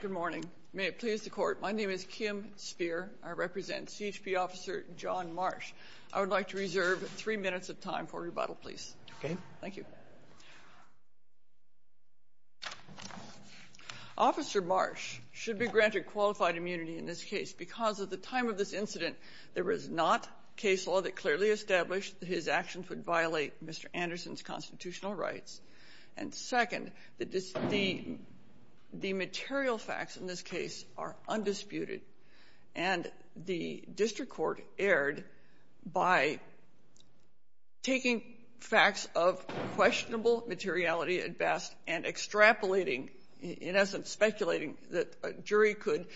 Good morning. May it please the court. My name is Kim Spear. I represent CHP officer John Marsh. I would like to reserve three minutes of time for rebuttal, please. Thank you. Officer Marsh should be granted qualified immunity in this case. Because at the time of this incident, there was not case law that clearly established that his actions would the material facts in this case are undisputed. And the district court erred by taking facts of questionable materiality at best and extrapolating, in essence, speculating that a jury could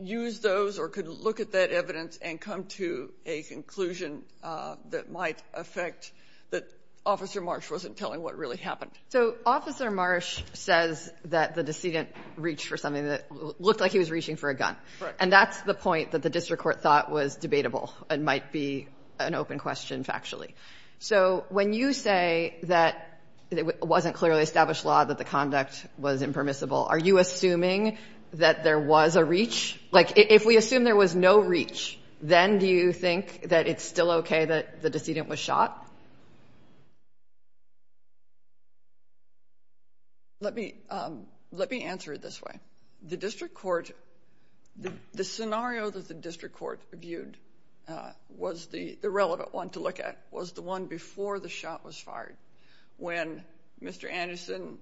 use those or could look at that evidence and come to a conclusion that might affect that Officer Marsh wasn't telling what really happened. So Officer Marsh says that the decedent reached for something that looked like he was reaching for a gun. Right. And that's the point that the district court thought was debatable and might be an open question factually. So when you say that it wasn't clearly established law, that the conduct was impermissible, are you assuming that there was a reach? Like, if we assume there was no reach, then do you think that it's still okay that the decedent was shot? Let me answer it this way. The scenario that the district court viewed was the relevant one to look at was the one before the shot was fired. When Mr. Anderson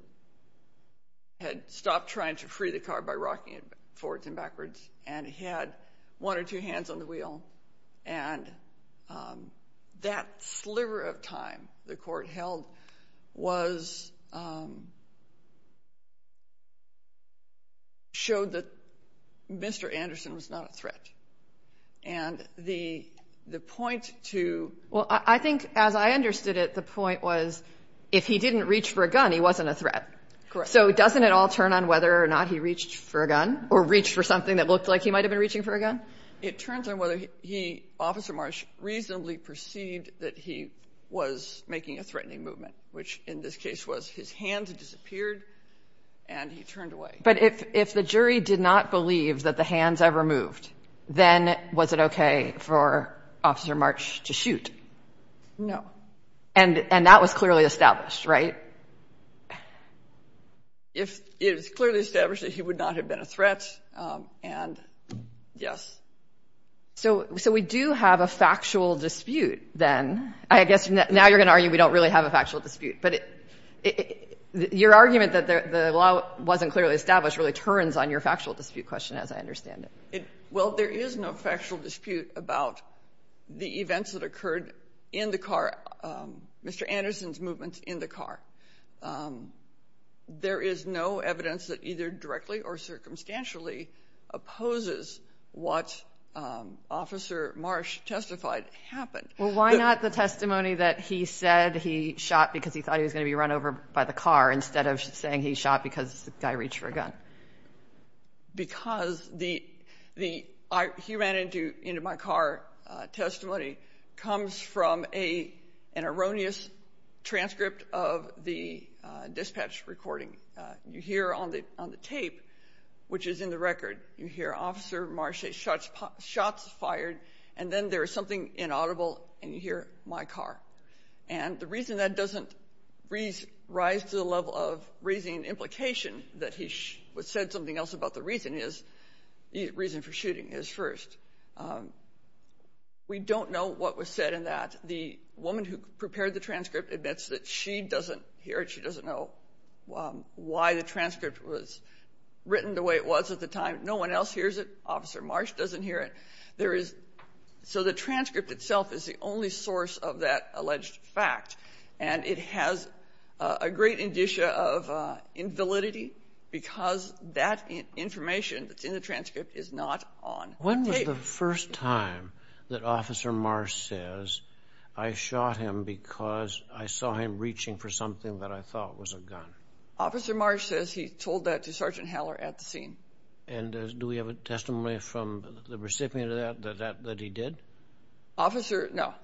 had stopped trying to free the car by rocking it forwards and backwards, and he had one or two hands on the wheel, and that sliver of time the court held was, showed that Mr. Anderson was not a threat. And the point to Well, I think as I understood it, the point was, if he didn't reach for a gun, he wasn't a threat. Correct. So doesn't it all turn on whether or not he reached for a gun or reached for something that looked like he might have been reaching for a gun? It turns on whether he, Officer Marsh, reasonably perceived that he was making a threatening movement, which in this case was his hands disappeared and he turned away. But if the jury did not believe that the hands ever moved, then was it okay for Officer Marsh to shoot? No. And that was clearly established, right? It was clearly established that he would not have been a threat. And yes. So we do have a factual dispute then. I guess now you're going to argue we don't really have a factual dispute. But your argument that the law wasn't clearly established really turns on your factual dispute question, as I understand it. Well, there is no factual dispute about the events that occurred in the car, Mr. Anderson's movement in the car. There is no evidence that either directly or circumstantially opposes what Officer Marsh testified happened. Well, why not the testimony that he said he shot because he thought he was going to be run over by the car instead of saying he shot because the guy reached for a gun? Because he ran into my car. Testimony comes from an erroneous transcript of the dispatch recording. You hear on the tape, which is in the record, you hear Officer Marsh's shots fired and then there is something inaudible and you hear my car. And the reason that doesn't rise to the level of raising an implication that he said something else about the reason is the reason for shooting is first. We don't know what was said in that. The woman who prepared the transcript admits that she doesn't hear it. She doesn't know why the transcript was written the way it was at the time. No one else hears it. Officer Marsh doesn't hear it. There is. So the transcript itself is the only source of that alleged fact. And it has a great indicia of invalidity because that information that's in the transcript is not on the tape. When was the first time that Officer Marsh says, I shot him because I saw him reaching for something that I thought was a gun? Officer Marsh says he told that to Sergeant Haller at the scene. And do we have a testimony from the recipient of that, that he did? Officer no.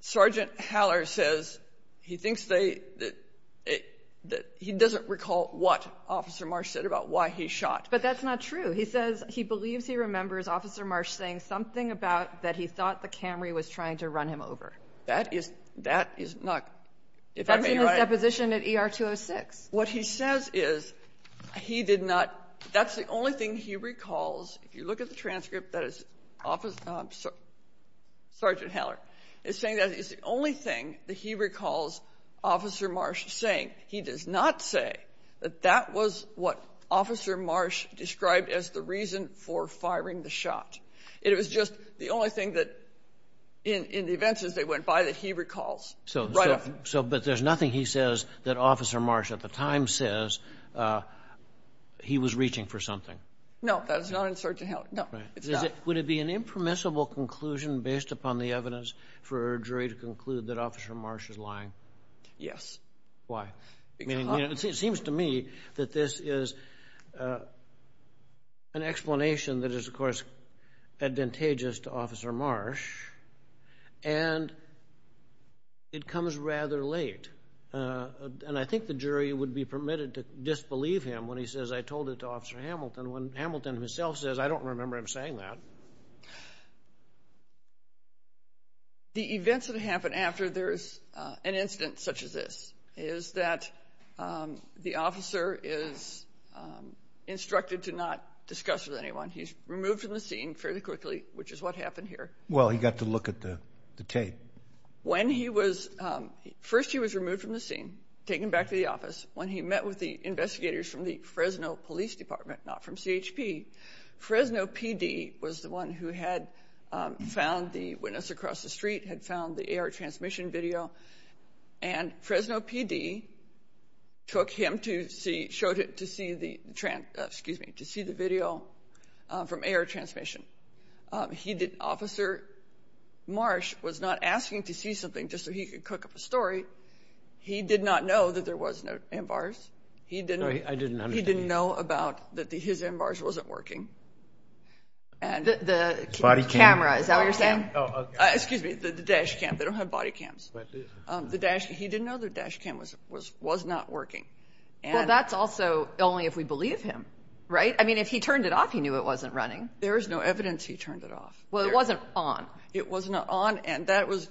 Sergeant Haller says he thinks they, that he doesn't recall what Officer Marsh said about why he shot. But that's not true. He says he believes he remembers Officer Marsh saying something about that he thought the Camry was trying to run him over. That is, that is not, if I may write. That's in his deposition at ER-206. What he says is he did not, that's the only thing he recalls. If you look at the transcript, that is, Sergeant Haller is saying that it's the only thing that he recalls Officer Marsh saying. He does not say that that was what Officer Marsh described as the reason for firing the shot. It was just the only thing that, in the events as they went by, that he recalls. So, so, but there's nothing he says that Officer Marsh at the time says he was reaching for something? No, that is not in Sergeant Haller. No, it's not. Would it be an impermissible conclusion based upon the evidence for a jury to conclude that Officer Marsh is lying? Yes. Why? I mean, it seems to me that this is an explanation that is, of course, advantageous to Officer Marsh, and it comes rather late. And I think the jury would be permitted to disbelieve him when he says, I told it to Officer Hamilton, when Hamilton himself says, I don't remember him saying that. The events that happen after there's an incident such as this is that the officer is instructed to not discuss with anyone. He's removed from the scene fairly quickly, which is what happened here. Well, he got to look at the tape. When he was, first he was removed from the scene, taken back to the office. When he met with the investigators from the Fresno Police Department, not from CHP, Fresno PD was the one who had found the witness across the street, had found the video from air transmission. He did, Officer Marsh was not asking to see something just so he could cook up a story. He did not know that there was no M-Bars. He didn't know about that his M-Bars wasn't working. The camera, is that what you're saying? Excuse me, the dash cam. They don't have body cams. The dash, he didn't know the dash cam was not working. Well, that's also only if we believe him, right? I mean, if he turned it off, he knew it wasn't running. There is no evidence he turned it off. Well, it wasn't on. It was not on. And that was,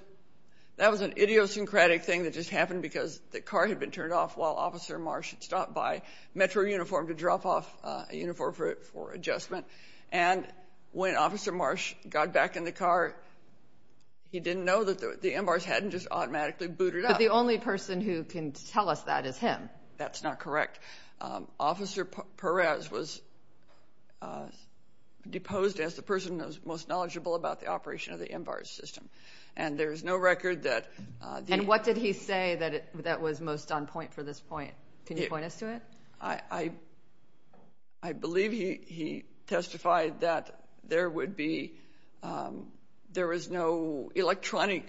that was an idiosyncratic thing that just happened because the car had been turned off while Officer Marsh had stopped by Metro Uniform to drop off a uniform for adjustment. And when Officer Marsh got back in the car, he didn't know that the M-Bars hadn't just automatically booted up. But the only person who can tell us that is him. That's not correct. Officer Perez was deposed as the person who was most knowledgeable about the operation of the M-Bars system. And there's no record that... And what did he say that was most on point for this point? Can you point us to it? I believe he testified that there would be, there was no electronic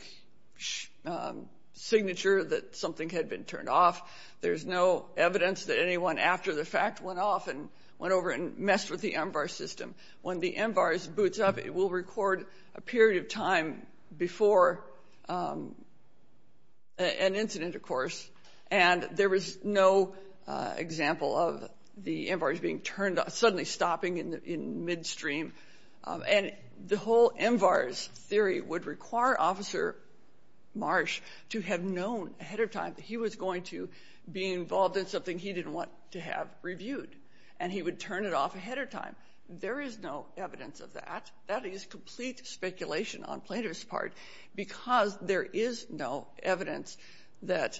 signature that something had been turned off. There's no evidence that anyone after the fact went off and went over and messed with the M-Bar system. When the M-Bars boots up, it will record a period of time before an incident, of course. And there was no example of the M-Bars being turned off, suddenly stopping in midstream. And the whole M-Bars theory would require Officer Marsh to have known ahead of time that he was going to be involved in something he didn't want to have reviewed. And he would turn it off ahead of time. There is no evidence of that. That is complete speculation on Plaintiff's part, because there is no evidence that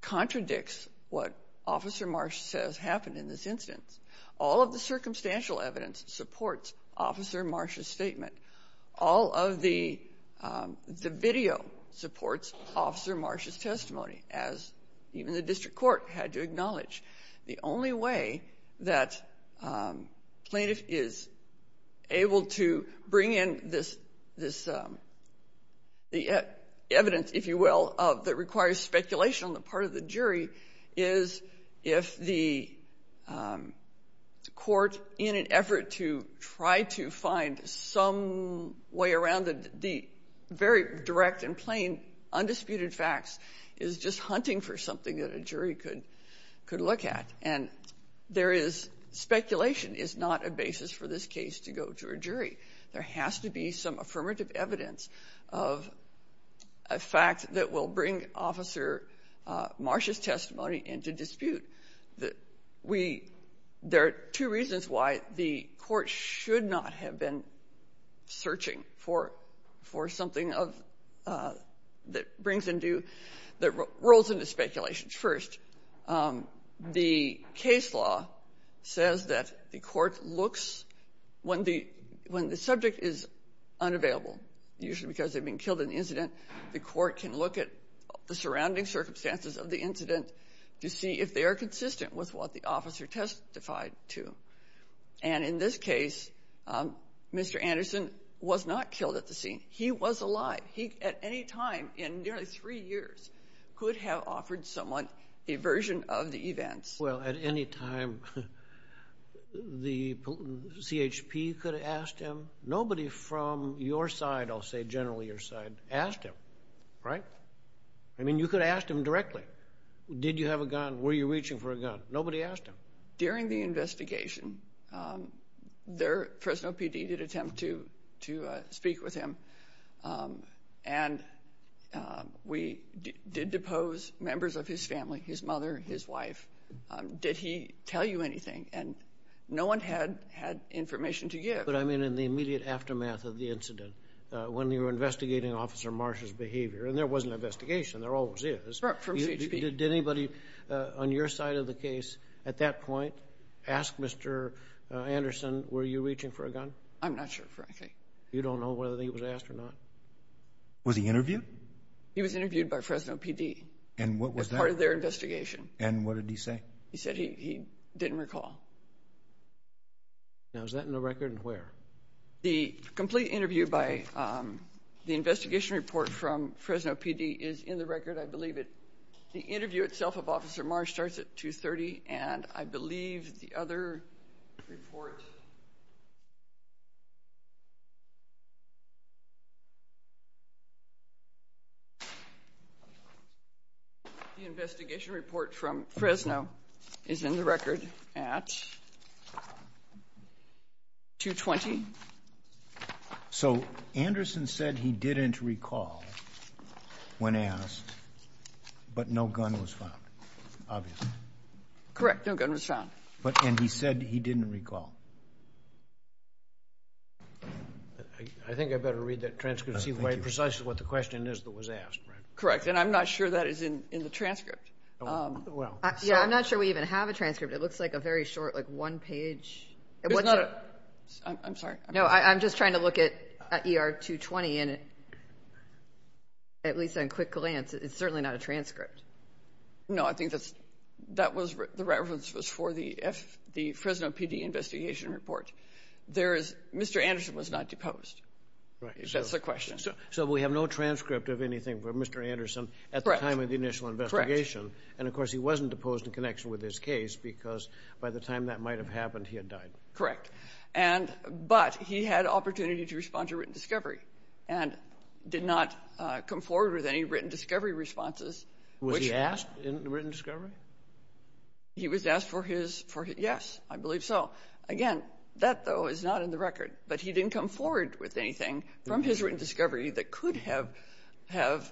contradicts what Officer Marsh says happened in this instance. All of the circumstantial evidence supports Officer Marsh's statement. All of the video supports Officer Marsh's testimony, as even the district court had to acknowledge. The only way that Plaintiff is able to bring in this, the evidence, if you will, that requires speculation on the part of the jury is if the court, in an effort to try to find some way around the very direct and plain undisputed facts, is just hunting for something that a jury could look at. And there is, speculation is not a basis for this case to go to a jury. There has to be some affirmative evidence of a fact that will bring Officer Marsh's testimony into dispute. There are two reasons why the court should not have been searching for something that brings into, that rolls into speculation first. The case law says that the court looks, when the subject is unavailable, usually because they've been killed in the incident, the court can look at the surrounding circumstances of the incident to see if they are consistent with what the officer testified to. And in this case, Mr. Anderson was not killed at the scene. He was alive. He, at any time in nearly three years, could have offered someone a version of the events. Well, at any time, the CHP could have asked him. Nobody from your side, I'll say generally your side, asked him, right? I mean, you could have asked him directly. Did you have a gun? Were you reaching for a gun? Nobody asked him. During the investigation, Fresno PD did attempt to speak with him, and we did depose members of his family, his mother, his wife. Did he tell you anything? And no one had information to give. But I mean, in the immediate aftermath of the incident, when you were investigating Officer Marsh's behavior, and there was an investigation, there always is, did anybody on your side of the case at that point ask Mr. Anderson, were you reaching for a gun? I'm not sure, frankly. You don't know whether he was asked or not? Was he interviewed? He was interviewed by Fresno PD. And what was that? As part of their investigation. And what did he say? He said he didn't recall. Now, is that in the record and where? The complete interview by the investigation report from Fresno PD is in the record, I believe the other report. The investigation report from Fresno is in the record at 220. So Anderson said he didn't recall when asked, but no gun was found, obviously. Correct. No gun was found. But and he said he didn't recall. I think I better read that transcript to see precisely what the question is that was asked. Correct. And I'm not sure that is in the transcript. Well, yeah, I'm not sure we even have a transcript. It looks like a very short, like one page. It's not. I'm sorry. No, I'm just trying to look at ER 220. And at least on quick glance, it's certainly not a transcript. No, I think that's that was the reference was for the F the Fresno PD investigation report. There is Mr Anderson was not deposed. That's the question. So we have no transcript of anything for Mr Anderson at the time of the initial investigation. And of course, he wasn't deposed in connection with this case because by the time that might have happened, he had died. Correct. And but he had opportunity to respond to written discovery and did not come forward with any written discovery responses. Was he asked in the written discovery? He was asked for his for. Yes, I believe so. Again, that, though, is not in the record, but he didn't come forward with anything from his written discovery that could have have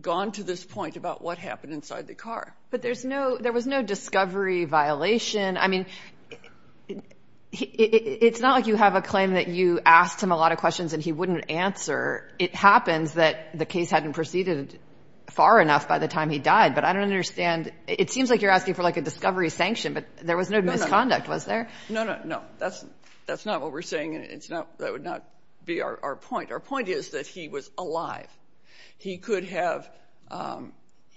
gone to this point about what happened inside the car. But there's no there was no discovery violation. I mean, it's not like you have a claim that you asked him a lot of questions and he wouldn't answer. It happens that the case hadn't proceeded far enough by the time he died. But I don't understand. It seems like you're asking for, like, a discovery sanction. But there was no misconduct, was there? No, no, no. That's that's not what we're saying. And it's not that would not be our point. Our point is that he was alive. He could have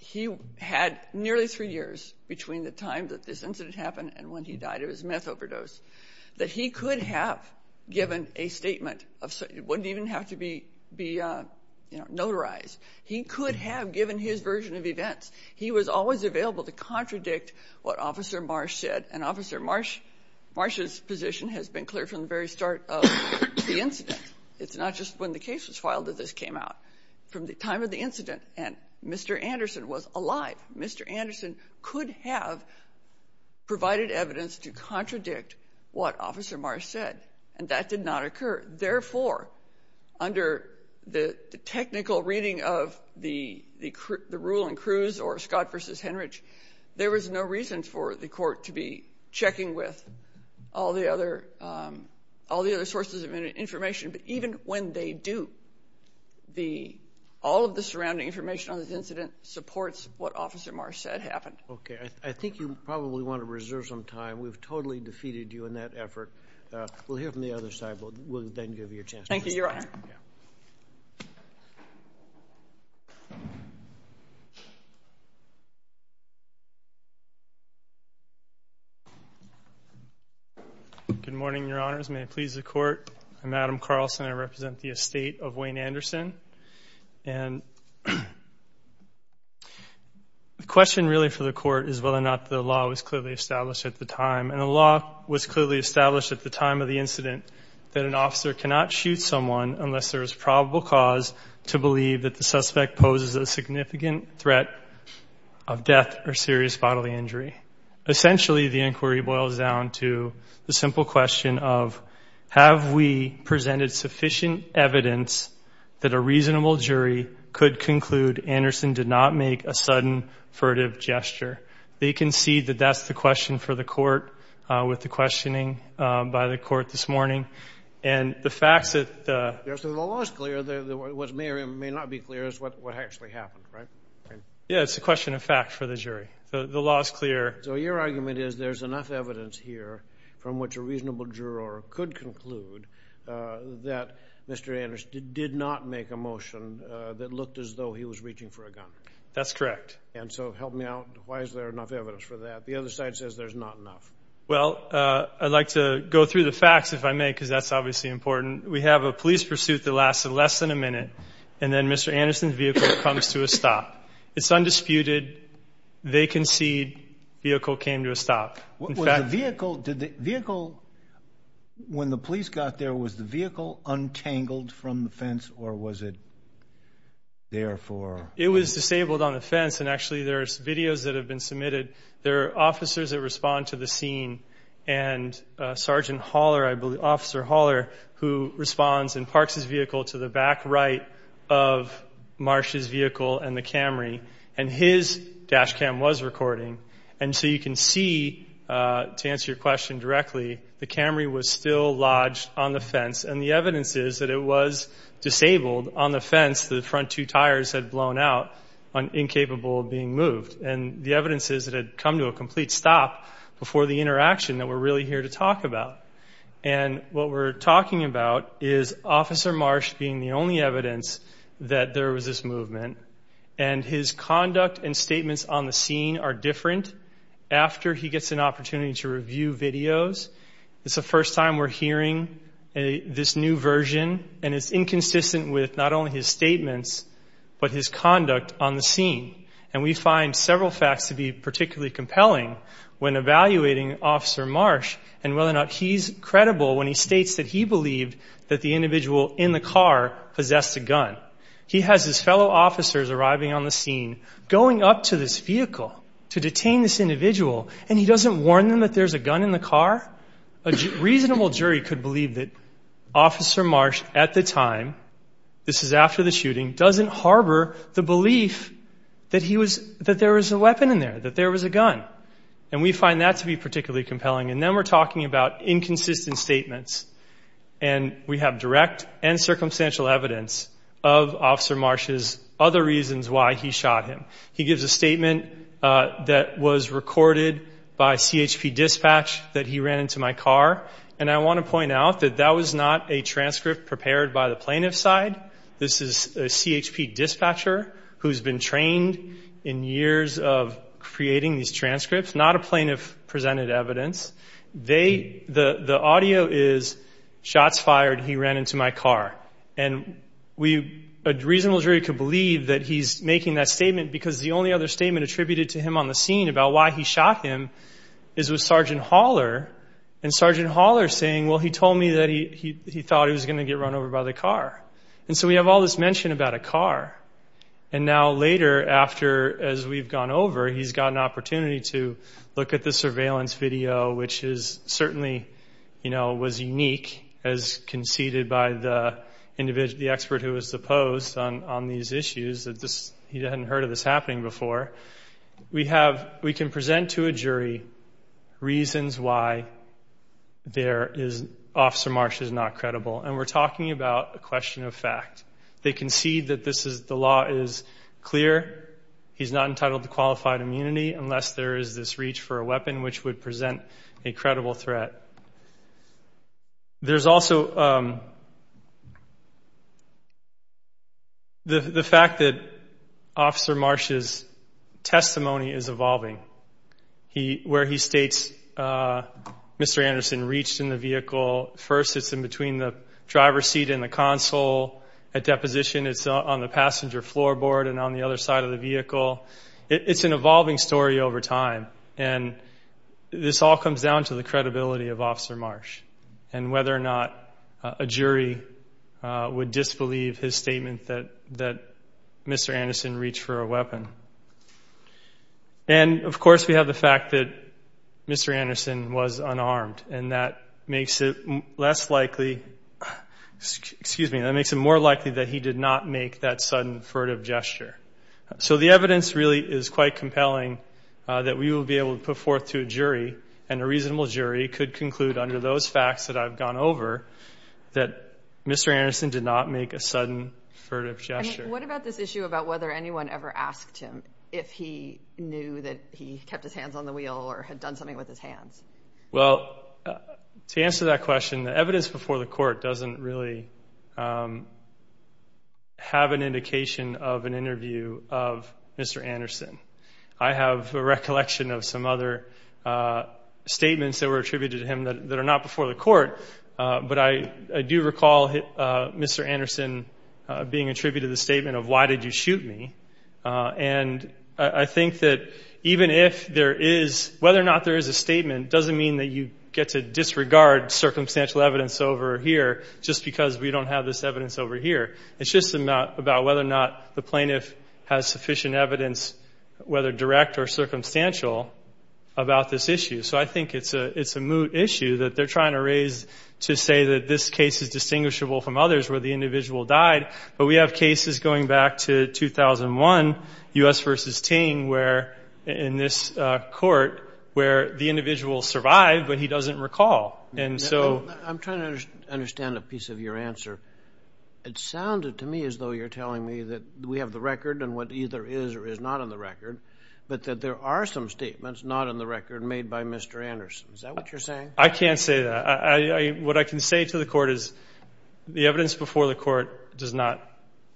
he had nearly three years between the time that this incident happened and when he died of his meth overdose that he could have given a statement of wouldn't even have to be be, you know, notarized. He could have given his version of events. He was always available to contradict what Officer Marsh said. And Officer Marsh Marsh's position has been clear from the very start of the incident. It's not just when the case was filed that this came out from the time of the incident. And Mr. Anderson was alive. Mr. Anderson could have provided evidence to contradict what Officer Marsh said, and that did not occur. Therefore, under the technical reading of the rule in Cruz or Scott versus Henrich, there was no reason for the court to be checking with all the other all the other sources of information. But even when they do, the all of the surrounding information on this incident supports what Officer probably want to reserve some time. We've totally defeated you in that effort. We'll hear from the other side. But we'll then give you a chance. Thank you. You're right. Good morning, Your Honors. May it please the court. I'm Adam Carlson. I represent the estate of Wayne Anderson and the question really for the court is whether or not the law was clearly established at the time. And the law was clearly established at the time of the incident that an officer cannot shoot someone unless there is probable cause to believe that the suspect poses a significant threat of death or serious bodily injury. Essentially, the inquiry boils down to the simple question of have we presented sufficient evidence that a reasonable jury could conclude Anderson did not make a sudden furtive gesture? They concede that that's the question for the court with the questioning by the court this morning. And the facts that the law is clear, what may or may not be clear is what actually happened, right? Yeah, it's a question of fact for the jury. The law is clear. So your argument is there's enough evidence here from which a jury can conclude that Mr Anderson did not make a motion that looked as though he was reaching for a gun. That's correct. And so help me out. Why is there enough evidence for that? The other side says there's not enough. Well, I'd like to go through the facts if I may, because that's obviously important. We have a police pursuit that lasted less than a minute. And then Mr Anderson's vehicle comes to a stop. It's undisputed. They concede vehicle came to stop vehicle. Did the vehicle when the police got there, was the vehicle untangled from the fence or was it there for it was disabled on the fence. And actually, there's videos that have been submitted. There are officers that respond to the scene and Sergeant Haller. I believe Officer Haller, who responds and parks his vehicle to the back right of Marsh's vehicle and the Camry and his dash cam was recording. And so you can see, to answer your question directly, the Camry was still lodged on the fence. And the evidence is that it was disabled on the fence. The front two tires had blown out on incapable being moved. And the evidence is that had come to a complete stop before the interaction that we're really here to talk about. And what we're talking about is Officer Marsh being the only evidence that there was this movement and his conduct and statements on the scene are different. After he gets an opportunity to review videos, it's the first time we're hearing this new version and it's inconsistent with not only his statements, but his conduct on the scene. And we find several facts to be particularly compelling when evaluating Officer Marsh and whether or not he's credible when he states that he believed that the individual in the car possessed a gun. He has his fellow officers arriving on the scene going up to this vehicle to detain this individual and he doesn't warn them that there's a gun in the car. A reasonable jury could believe that Officer Marsh at the time, this is after the shooting, doesn't harbor the belief that he was, that there was a weapon in there, that there was a gun. And we find that to be particularly compelling. And then we're talking about inconsistent statements and we have direct and circumstantial evidence of Officer Marsh's other reasons why he shot him. He gives a statement that was recorded by CHP dispatch that he ran into my car. And I wanna point out that that was not a transcript prepared by the plaintiff's side. This is a CHP dispatcher who's been trained in years of creating these transcripts, not a plaintiff presented evidence. The audio is, shots fired, he ran into my car. And a reasonable jury could believe that he's making that statement because the only other statement attributed to him on the scene about why he shot him is with Sergeant Haller. And Sergeant Haller saying, well, he told me that he thought he was gonna get run over by the car. And so we have all this mention about a car. And now later after, as we've gone over, he's got an opportunity to look at the surveillance video, which is certainly, was unique as conceded by the expert who was the post on these issues. He hadn't heard of this happening before. We can present to a jury reasons why Officer Marsh is not credible. And we're talking about a question of fact. They concede that the law is clear. He's not entitled to qualified immunity unless there is this reach for a weapon, which would present a credible threat. There's also the fact that Officer Marsh's testimony is evolving. Where he states, Mr. Anderson reached in the vehicle. First, it's in between the driver's seat and the console. At deposition, it's on the passenger floorboard and on the other side of the vehicle. It's an evolving story over time. And this all comes down to the credibility of Officer Marsh and whether or not a jury would disbelieve his statement that Mr. Anderson reached for a weapon. And of course, we have the fact that Mr. Anderson was unarmed, and that makes it less likely... Excuse me, that makes it more likely that he did not make that sudden furtive gesture. So the evidence really is quite compelling that we will be able to put forth to a jury and a reasonable jury could conclude under those facts that I've gone over that Mr. Anderson did not make a sudden furtive gesture. What about this issue about whether anyone ever asked him if he knew that he kept his hands on the wheel or had done something with his hands? Well, to answer that question, the evidence before the court doesn't really have an indication of an interview of Mr. Anderson. I have a recollection of some other statements that were attributed to him that are not before the court, but I do recall Mr. Anderson being attributed the statement of, why did you shoot me? And I think that even if there is... Whether or not there is a statement doesn't mean that you get to disregard circumstantial evidence over here just because we don't have this evidence over here. It's just about whether or not the plaintiff has sufficient evidence, whether direct or circumstantial, about this issue. So I think it's a moot issue that they're trying to raise to say that this case is distinguishable from others where the individual died, but we have cases going back to 2001, US versus Ting, where in this court, where the individual survived, but he doesn't recall. And so... I'm trying to understand a piece of your answer. It sounded to me as though you're telling me that we have the record and what either is or is not on the record, but that there are some statements not on the record made by Mr. Anderson. Is that what you're saying? I can't say that. What I can say to the court is the evidence before the court does not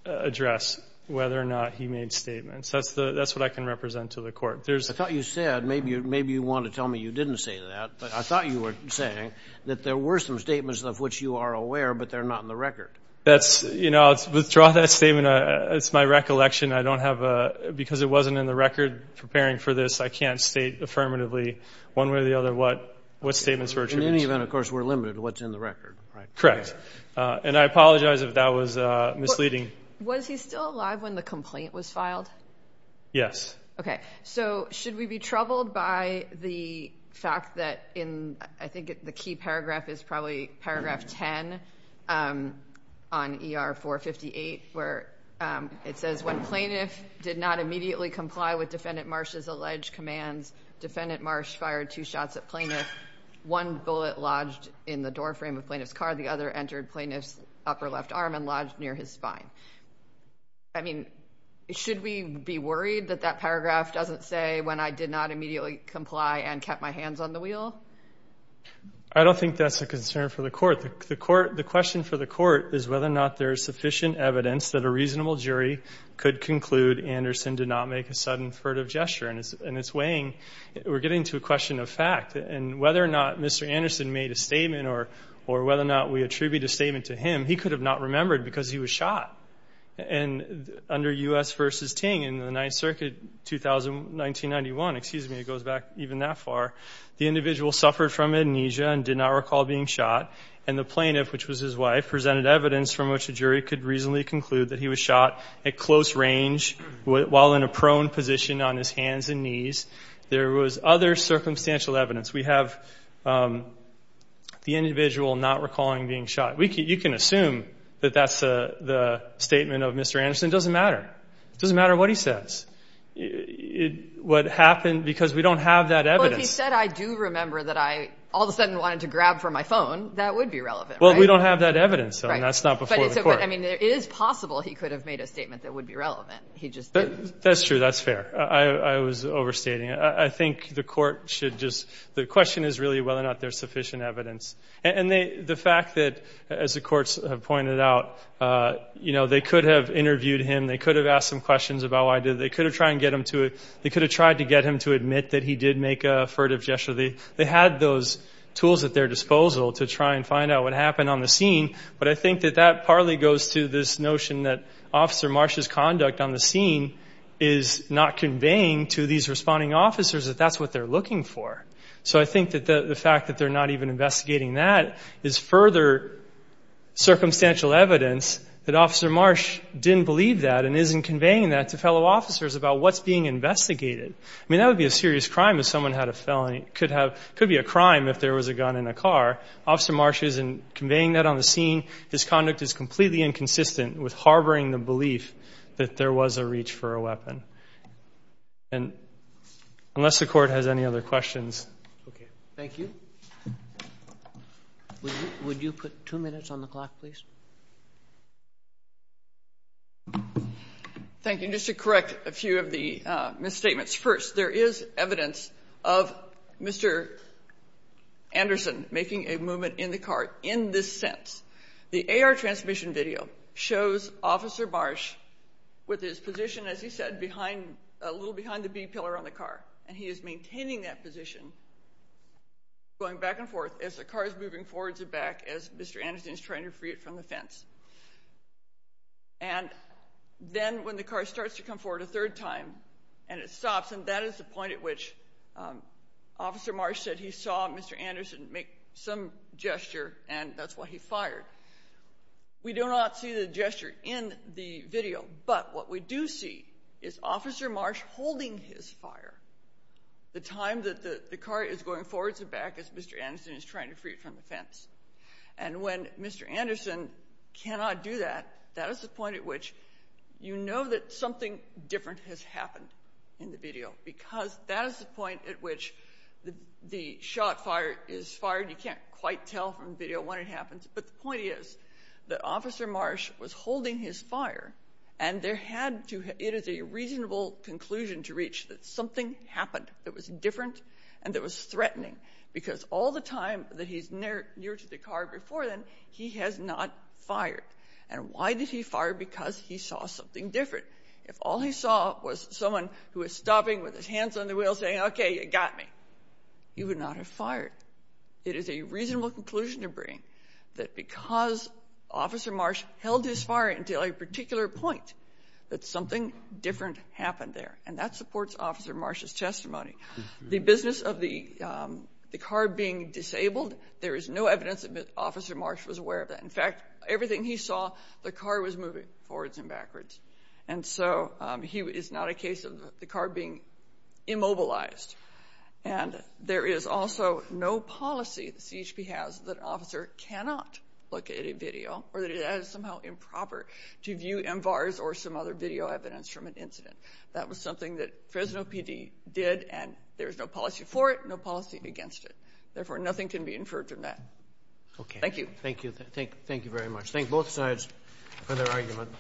address whether or not he made statements. That's what I can represent to the court. I thought you said, maybe you want to tell me you didn't say that, but I thought you were saying that there were some statements of which you are aware, but they're not in the record. That's... I'll withdraw that statement. It's my recollection. I don't have a... Because it wasn't in the record preparing for this, I can't state affirmatively one way or the other what statements were attributed. In any event, of course, we're limited to what's in the record, right? Correct. And I apologize if that was misleading. Was he still alive when the complaint was filed? Yes. Okay. So should we be troubled by the fact that in... I think the key paragraph is probably paragraph 10 on ER 458, where it says, when plaintiff did not immediately comply with defendant Marsh's alleged commands, defendant Marsh fired two shots at plaintiff. One bullet lodged in the doorframe of plaintiff's car, the other entered plaintiff's upper left arm and lodged near his spine. I mean, should we be worried that that paragraph doesn't say when I did not immediately comply and kept my hands on the wheel? I don't think that's a concern for the court. The court... The question for the court is whether or not there is sufficient evidence that a reasonable jury could conclude Anderson did not make a sudden furtive gesture, and it's weighing... We're getting to a question of fact, and whether or not he could have not remembered because he was shot. And under U.S. versus Ting in the 9th Circuit, 1991, excuse me, it goes back even that far, the individual suffered from amnesia and did not recall being shot, and the plaintiff, which was his wife, presented evidence from which a jury could reasonably conclude that he was shot at close range while in a prone position on his hands and knees. There was other circumstantial evidence. We have the individual not recalling being shot. You can assume that that's the statement of Mr. Anderson. It doesn't matter. It doesn't matter what he says. What happened, because we don't have that evidence. But if he said, I do remember that I all of a sudden wanted to grab for my phone, that would be relevant, right? Well, we don't have that evidence, so that's not before the court. But I mean, it is possible he could have made a statement that would be relevant. He just didn't. That's true. That's fair. I was overstating. I think the court should just... The question is really whether or not there's sufficient evidence. And the fact that, as the courts have pointed out, you know, they could have interviewed him. They could have asked him questions about why did... They could have tried to get him to admit that he did make a furtive gesture. They had those tools at their disposal to try and find out what happened on the scene. But I think that that partly goes to this notion that Officer Marsh's conduct on the scene is not conveying to these responding officers that that's what they're looking for. So I think that the fact that they're not even investigating that is further circumstantial evidence that Officer Marsh didn't believe that and isn't conveying that to fellow officers about what's being investigated. I mean, that would be a serious crime if someone had a felony. It could be a crime if there was a gun in a car. Officer Marsh isn't conveying that on the scene. His conduct is completely inconsistent with harboring the belief that there was a reach for a weapon. And unless the court has any other questions. Okay. Thank you. Would you put two minutes on the clock, please? Thank you. Just to correct a few of the misstatements. First, there is evidence of Mr. Anderson making a movement in the car. In this sense, the AR transmission video shows Officer Marsh with his position, as he said, behind a little behind the B pillar on the car. And he is maintaining that position going back and forth as the car is moving forward to back as Mr. Anderson is trying to free it from the fence. And then when the car starts to come forward a third time and it stops, and that is the point at which Officer Marsh said he saw Mr. Anderson make some gesture. And that's what he fired. We do not see the gesture in the video, but what we do see is Officer Marsh holding his fire. The time that the car is going forward to back as Mr. Anderson is trying to free it from the fence. And when Mr. Anderson cannot do that, that is the point at which you know that something different has happened in the video, because that is the point at which the shot fire is fired. You can't quite tell from the video when it happens, but the point is that Officer Marsh was holding his fire and there had to, it is a reasonable conclusion to reach that something happened that was different. And that was threatening because all the time that he's near near to the car before then he has not fired. And why did he fire? Because he saw something different. If all he saw was someone who was stopping with his hands on the wheel saying, okay, you got me, you would not have fired. It is a reasonable conclusion to bring that because Officer Marsh held his fire until a particular point that something different happened there. And that supports Officer Marsh's testimony, the business of the car being disabled. There is no evidence that Officer Marsh was aware of that. In fact, everything he saw, the car was moving forwards and backwards. And so he is not a case of the car being immobilized. And there is also no policy that CHP has that an officer cannot look at a video or that it is somehow improper to view MVARS or some other video evidence from an incident. That was something that Fresno PD did. And there was no policy for it, no policy against it. Therefore nothing can be inferred from that. Okay. Thank you. Thank you. Thank, thank you very much. Thank both sides for their argument.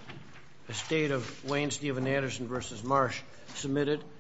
The state of Wayne Steven Anderson versus Marsh submitted.